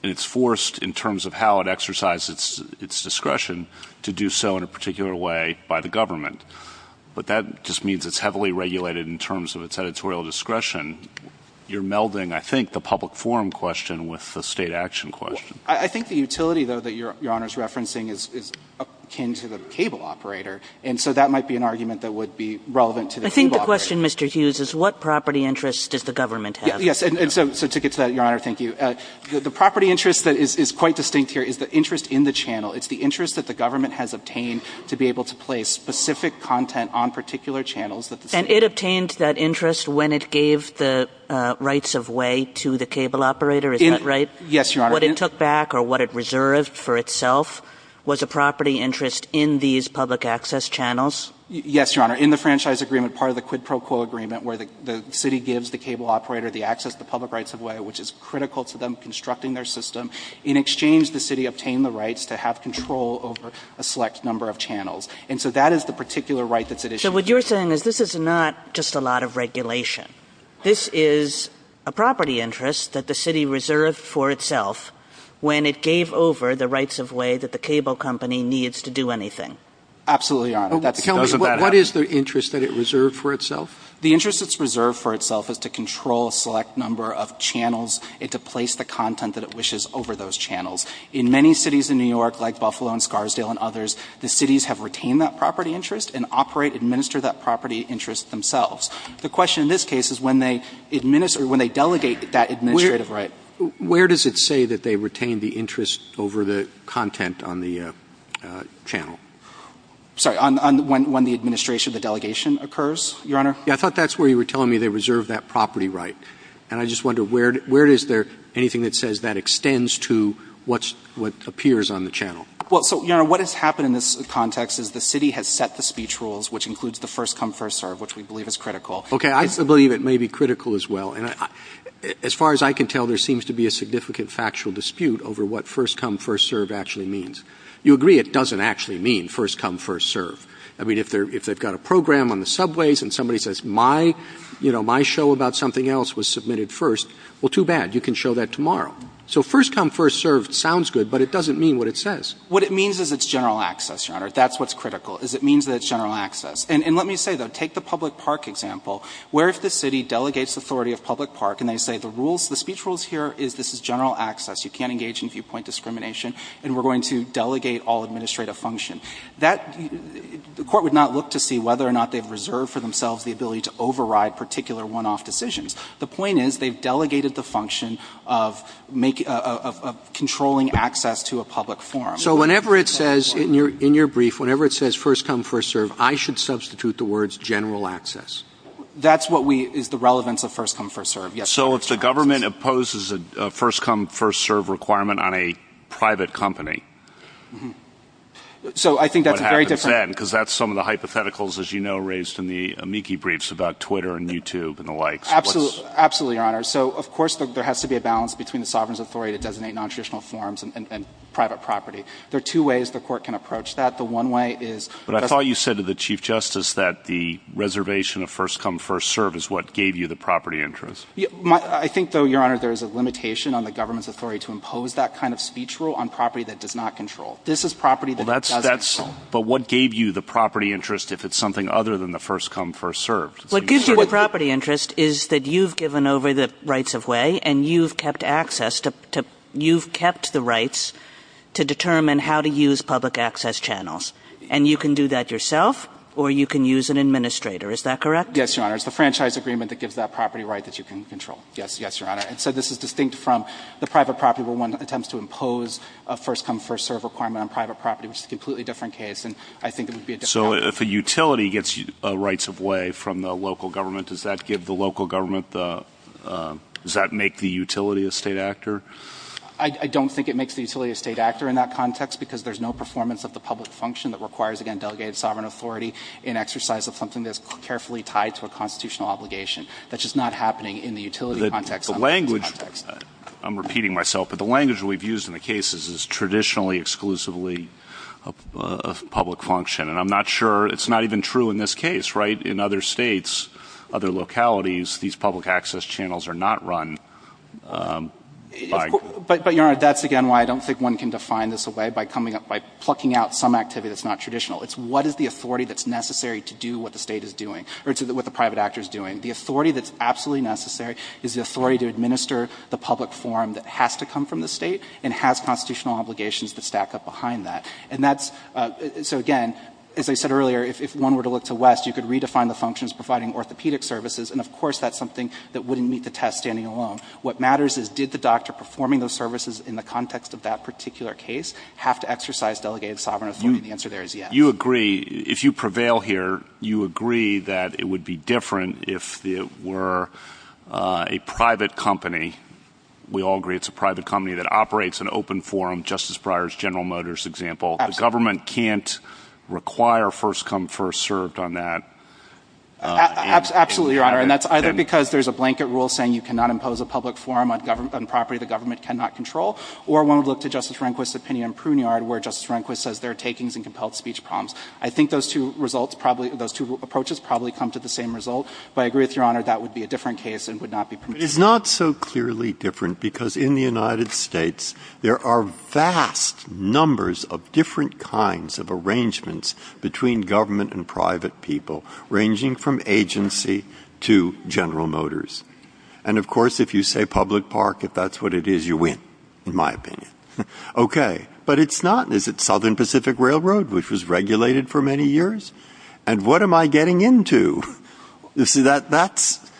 and it's forced in terms of how it exercises its discretion to do so in a particular way by the government. But that just means it's heavily regulated in terms of its editorial discretion. You're melding, I think, the public forum question with the state action question. I think the utility, though, that Your Honor is referencing is akin to the cable operator, and so that might be an argument that would be relevant to the cable operator. I think the question, Mr. Hughes, is what property interest does the government have? Yes. And so to get to that, Your Honor, thank you. The property interest that is quite distinct here is the interest in the channel. It's the interest that the government has obtained to be able to place specific content on particular channels that the city. And it obtained that interest when it gave the rights of way to the cable operator? Is that right? Yes, Your Honor. What it took back or what it reserved for itself was a property interest in these public access channels? Yes, Your Honor. In the franchise agreement, part of the quid pro quo agreement where the city gives the cable operator the access to the public rights of way, which is critical to them constructing their system, in exchange the city obtained the rights to have control over a select number of channels. And so that is the particular right that's at issue. So what you're saying is this is not just a lot of regulation. This is a property interest that the city reserved for itself when it gave over the rights of way that the cable company needs to do anything. Absolutely, Your Honor. Tell me, what is the interest that it reserved for itself? The interest it's reserved for itself is to control a select number of channels and to place the content that it wishes over those channels. In many cities in New York, like Buffalo and Scarsdale and others, the cities have retained that property interest and operate, administer that property interest themselves. The question in this case is when they delegate that administrative right. Where does it say that they retain the interest over the content on the channel? Sorry, on when the administration of the delegation occurs, Your Honor? Yeah, I thought that's where you were telling me they reserved that property right. And I just wonder, where is there anything that says that extends to what appears on the channel? Well, so, Your Honor, what has happened in this context is the city has set the speech rules, which includes the first come, first serve, which we believe is critical. Okay, I believe it may be critical as well. And as far as I can tell, there seems to be a significant factual dispute over what first come, first serve actually means. You agree it doesn't actually mean first come, first serve. I mean, if they've got a program on the subways and somebody says my, you know, my show about something else was submitted first, well, too bad. You can show that tomorrow. So first come, first serve sounds good, but it doesn't mean what it says. What it means is it's general access, Your Honor. That's what's critical, is it means that it's general access. And let me say, though, take the public park example. Where if the city delegates authority of public park and they say the rules, the speech rules here is this is general access. You can't engage in viewpoint discrimination. And we're going to delegate all administrative function. That the court would not look to see whether or not they've reserved for themselves the ability to override particular one-off decisions. The point is they've delegated the function of controlling access to a public forum. So whenever it says in your brief, whenever it says first come, first serve, I should substitute the words general access. That's what is the relevance of first come, first serve. So if the government opposes a first come, first serve requirement on a private company. So I think that's a very different. What happens then? Because that's some of the hypotheticals, as you know, raised in the amici briefs about Twitter and YouTube and the likes. Absolutely, Your Honor. So of course there has to be a balance between the sovereign's authority to designate nontraditional forums and private property. There are two ways the court can approach that. The one way is. But I thought you said to the Chief Justice that the reservation of first come, first serve is what gave you the property interest. I think, though, Your Honor, there is a limitation on the government's authority to impose that kind of speech rule on property that does not control. This is property that does control. But what gave you the property interest if it's something other than the first come, first serve? What gives you the property interest is that you've given over the rights of way and you've kept access to, you've kept the rights to determine how to use public access channels. And you can do that yourself or you can use an administrator. Is that correct? Yes, Your Honor. It's the franchise agreement that gives that property right that you can control. Yes, Your Honor. And so this is distinct from the private property where one attempts to impose a first come, first serve requirement on private property, which is a completely different case. And I think it would be a different case. So if a utility gets rights of way from the local government, does that give the local government the, does that make the utility a state actor? I don't think it makes the utility a state actor in that context because there's no performance of the public function that requires, again, delegated sovereign authority in exercise of something that's carefully tied to a constitutional obligation. That's just not happening in the utility context. The language, I'm repeating myself, but the language we've used in the cases is traditionally exclusively a public function. And I'm not sure, it's not even true in this case, right? In other states, other localities, these public access channels are not run by But, Your Honor, that's again why I don't think one can define this away by coming up, by plucking out some activity that's not traditional. It's what is the authority that's necessary to do what the state is doing, or to what the private actor is doing. The authority that's absolutely necessary is the authority to administer the public forum that has to come from the state and has constitutional obligations that stack up behind that. And that's, so again, as I said earlier, if one were to look to West, you could redefine the functions providing orthopedic services, and of course that's something that wouldn't meet the test standing alone. What matters is did the doctor performing those services in the context of that particular case have to exercise delegated sovereign authority? And the answer there is yes. You agree, if you prevail here, you agree that it would be different if it were a private company, we all agree it's a private company that operates an open forum, Justice Breyer's General Motors example. Absolutely. The government can't require first come first served on that. Absolutely, Your Honor, and that's either because there's a blanket rule saying you cannot impose a public forum on property the government cannot control, or one would look to Justice Rehnquist's opinion in Pruneyard where Justice Rehnquist has been compelling speech problems. I think those two results probably, those two approaches probably come to the same result. But I agree with Your Honor, that would be a different case and would not be permitted. Breyer. But it's not so clearly different because in the United States there are vast numbers of different kinds of arrangements between government and private people ranging from agency to General Motors. And of course if you say public park, if that's what it is, you win in my opinion. Okay. But it's not. Is it Southern Pacific Railroad, which was regulated for many years? And what am I getting into? You see, that's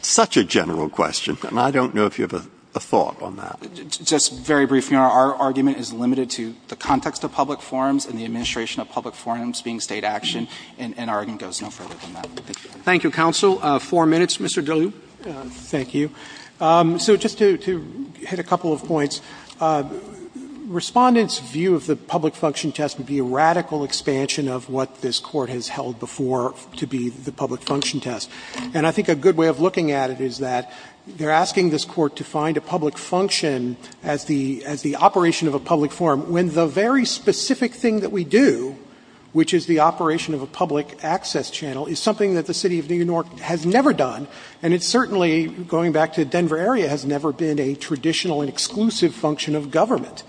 such a general question. And I don't know if you have a thought on that. Just very briefly, Your Honor, our argument is limited to the context of public forums and the administration of public forums being state action. And our argument goes no further than that. Thank you. Thank you, Counsel. Four minutes. Mr. Daly. Thank you. So just to hit a couple of points, Respondent's view of the public function test would be a radical expansion of what this Court has held before to be the public function test. And I think a good way of looking at it is that they're asking this Court to find a public function as the operation of a public forum when the very specific thing that we do, which is the operation of a public access channel, is something that the City of New York has never done. And it certainly, going back to Denver area, has never been a traditional and exclusive function of government.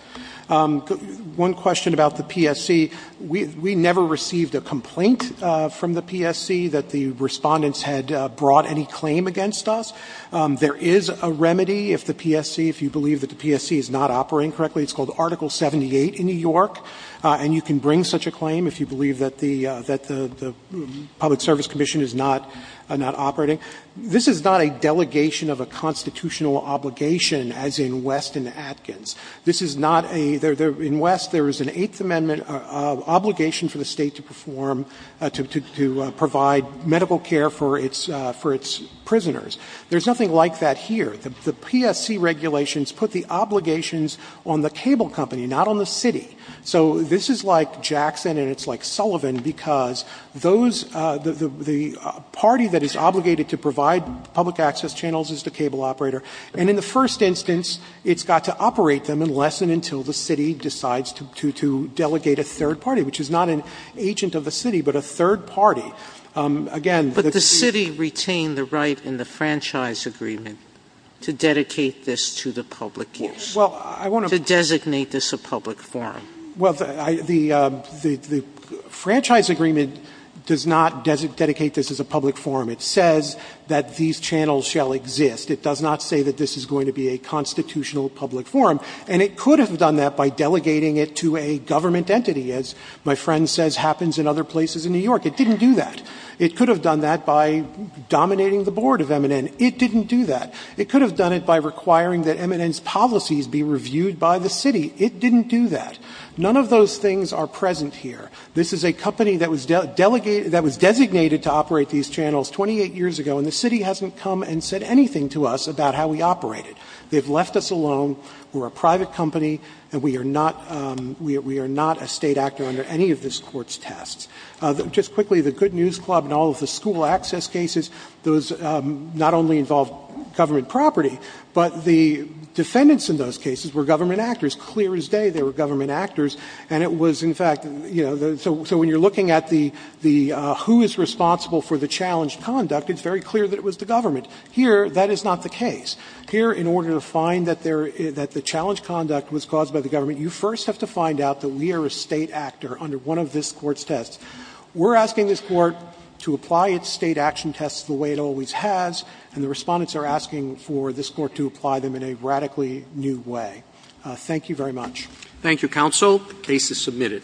One question about the PSC, we never received a complaint from the PSC that the Respondents had brought any claim against us. There is a remedy if the PSC, if you believe that the PSC is not operating correctly. It's called Article 78 in New York. And you can bring such a claim if you believe that the Public Service Commission is not operating. This is not a delegation of a constitutional obligation as in West and Atkins. This is not a — in West, there is an Eighth Amendment obligation for the State to perform, to provide medical care for its prisoners. There is nothing like that here. The PSC regulations put the obligations on the cable company, not on the City. So this is like Jackson and it's like Sullivan, because those — the party that is obligated to provide public access channels is the cable operator. And in the first instance, it's got to operate them unless and until the City decides to delegate a third party, which is not an agent of the City, but a third party. Again, the — Sotomayor, but the City retained the right in the Franchise Agreement to dedicate this to the public use, to designate this a public forum. Well, the Franchise Agreement does not dedicate this as a public forum. It says that these channels shall exist. It does not say that this is going to be a constitutional public forum. And it could have done that by delegating it to a government entity, as my friend says happens in other places in New York. It didn't do that. It could have done that by dominating the board of MNN. It didn't do that. It could have done it by requiring that MNN's policies be reviewed by the City. It didn't do that. None of those things are present here. This is a company that was delegated — that was designated to operate these channels 28 years ago, and the City hasn't come and said anything to us about how we operate it. They've left us alone. We're a private company, and we are not — we are not a State actor under any of this Court's tests. Just quickly, the Good News Club and all of the school access cases, those not only involved government property, but the defendants in those cases were government actors. Clear as day they were government actors. And it was, in fact, you know, so when you're looking at the — the who is responsible for the challenged conduct, it's very clear that it was the government. Here, that is not the case. Here, in order to find that there — that the challenged conduct was caused by the government, you first have to find out that we are a State actor under one of this Court's tests. We're asking this Court to apply its State action tests the way it always has, and the Respondents are asking for this Court to apply them in a radically new way. Thank you very much. Thank you, Counsel. The case is submitted.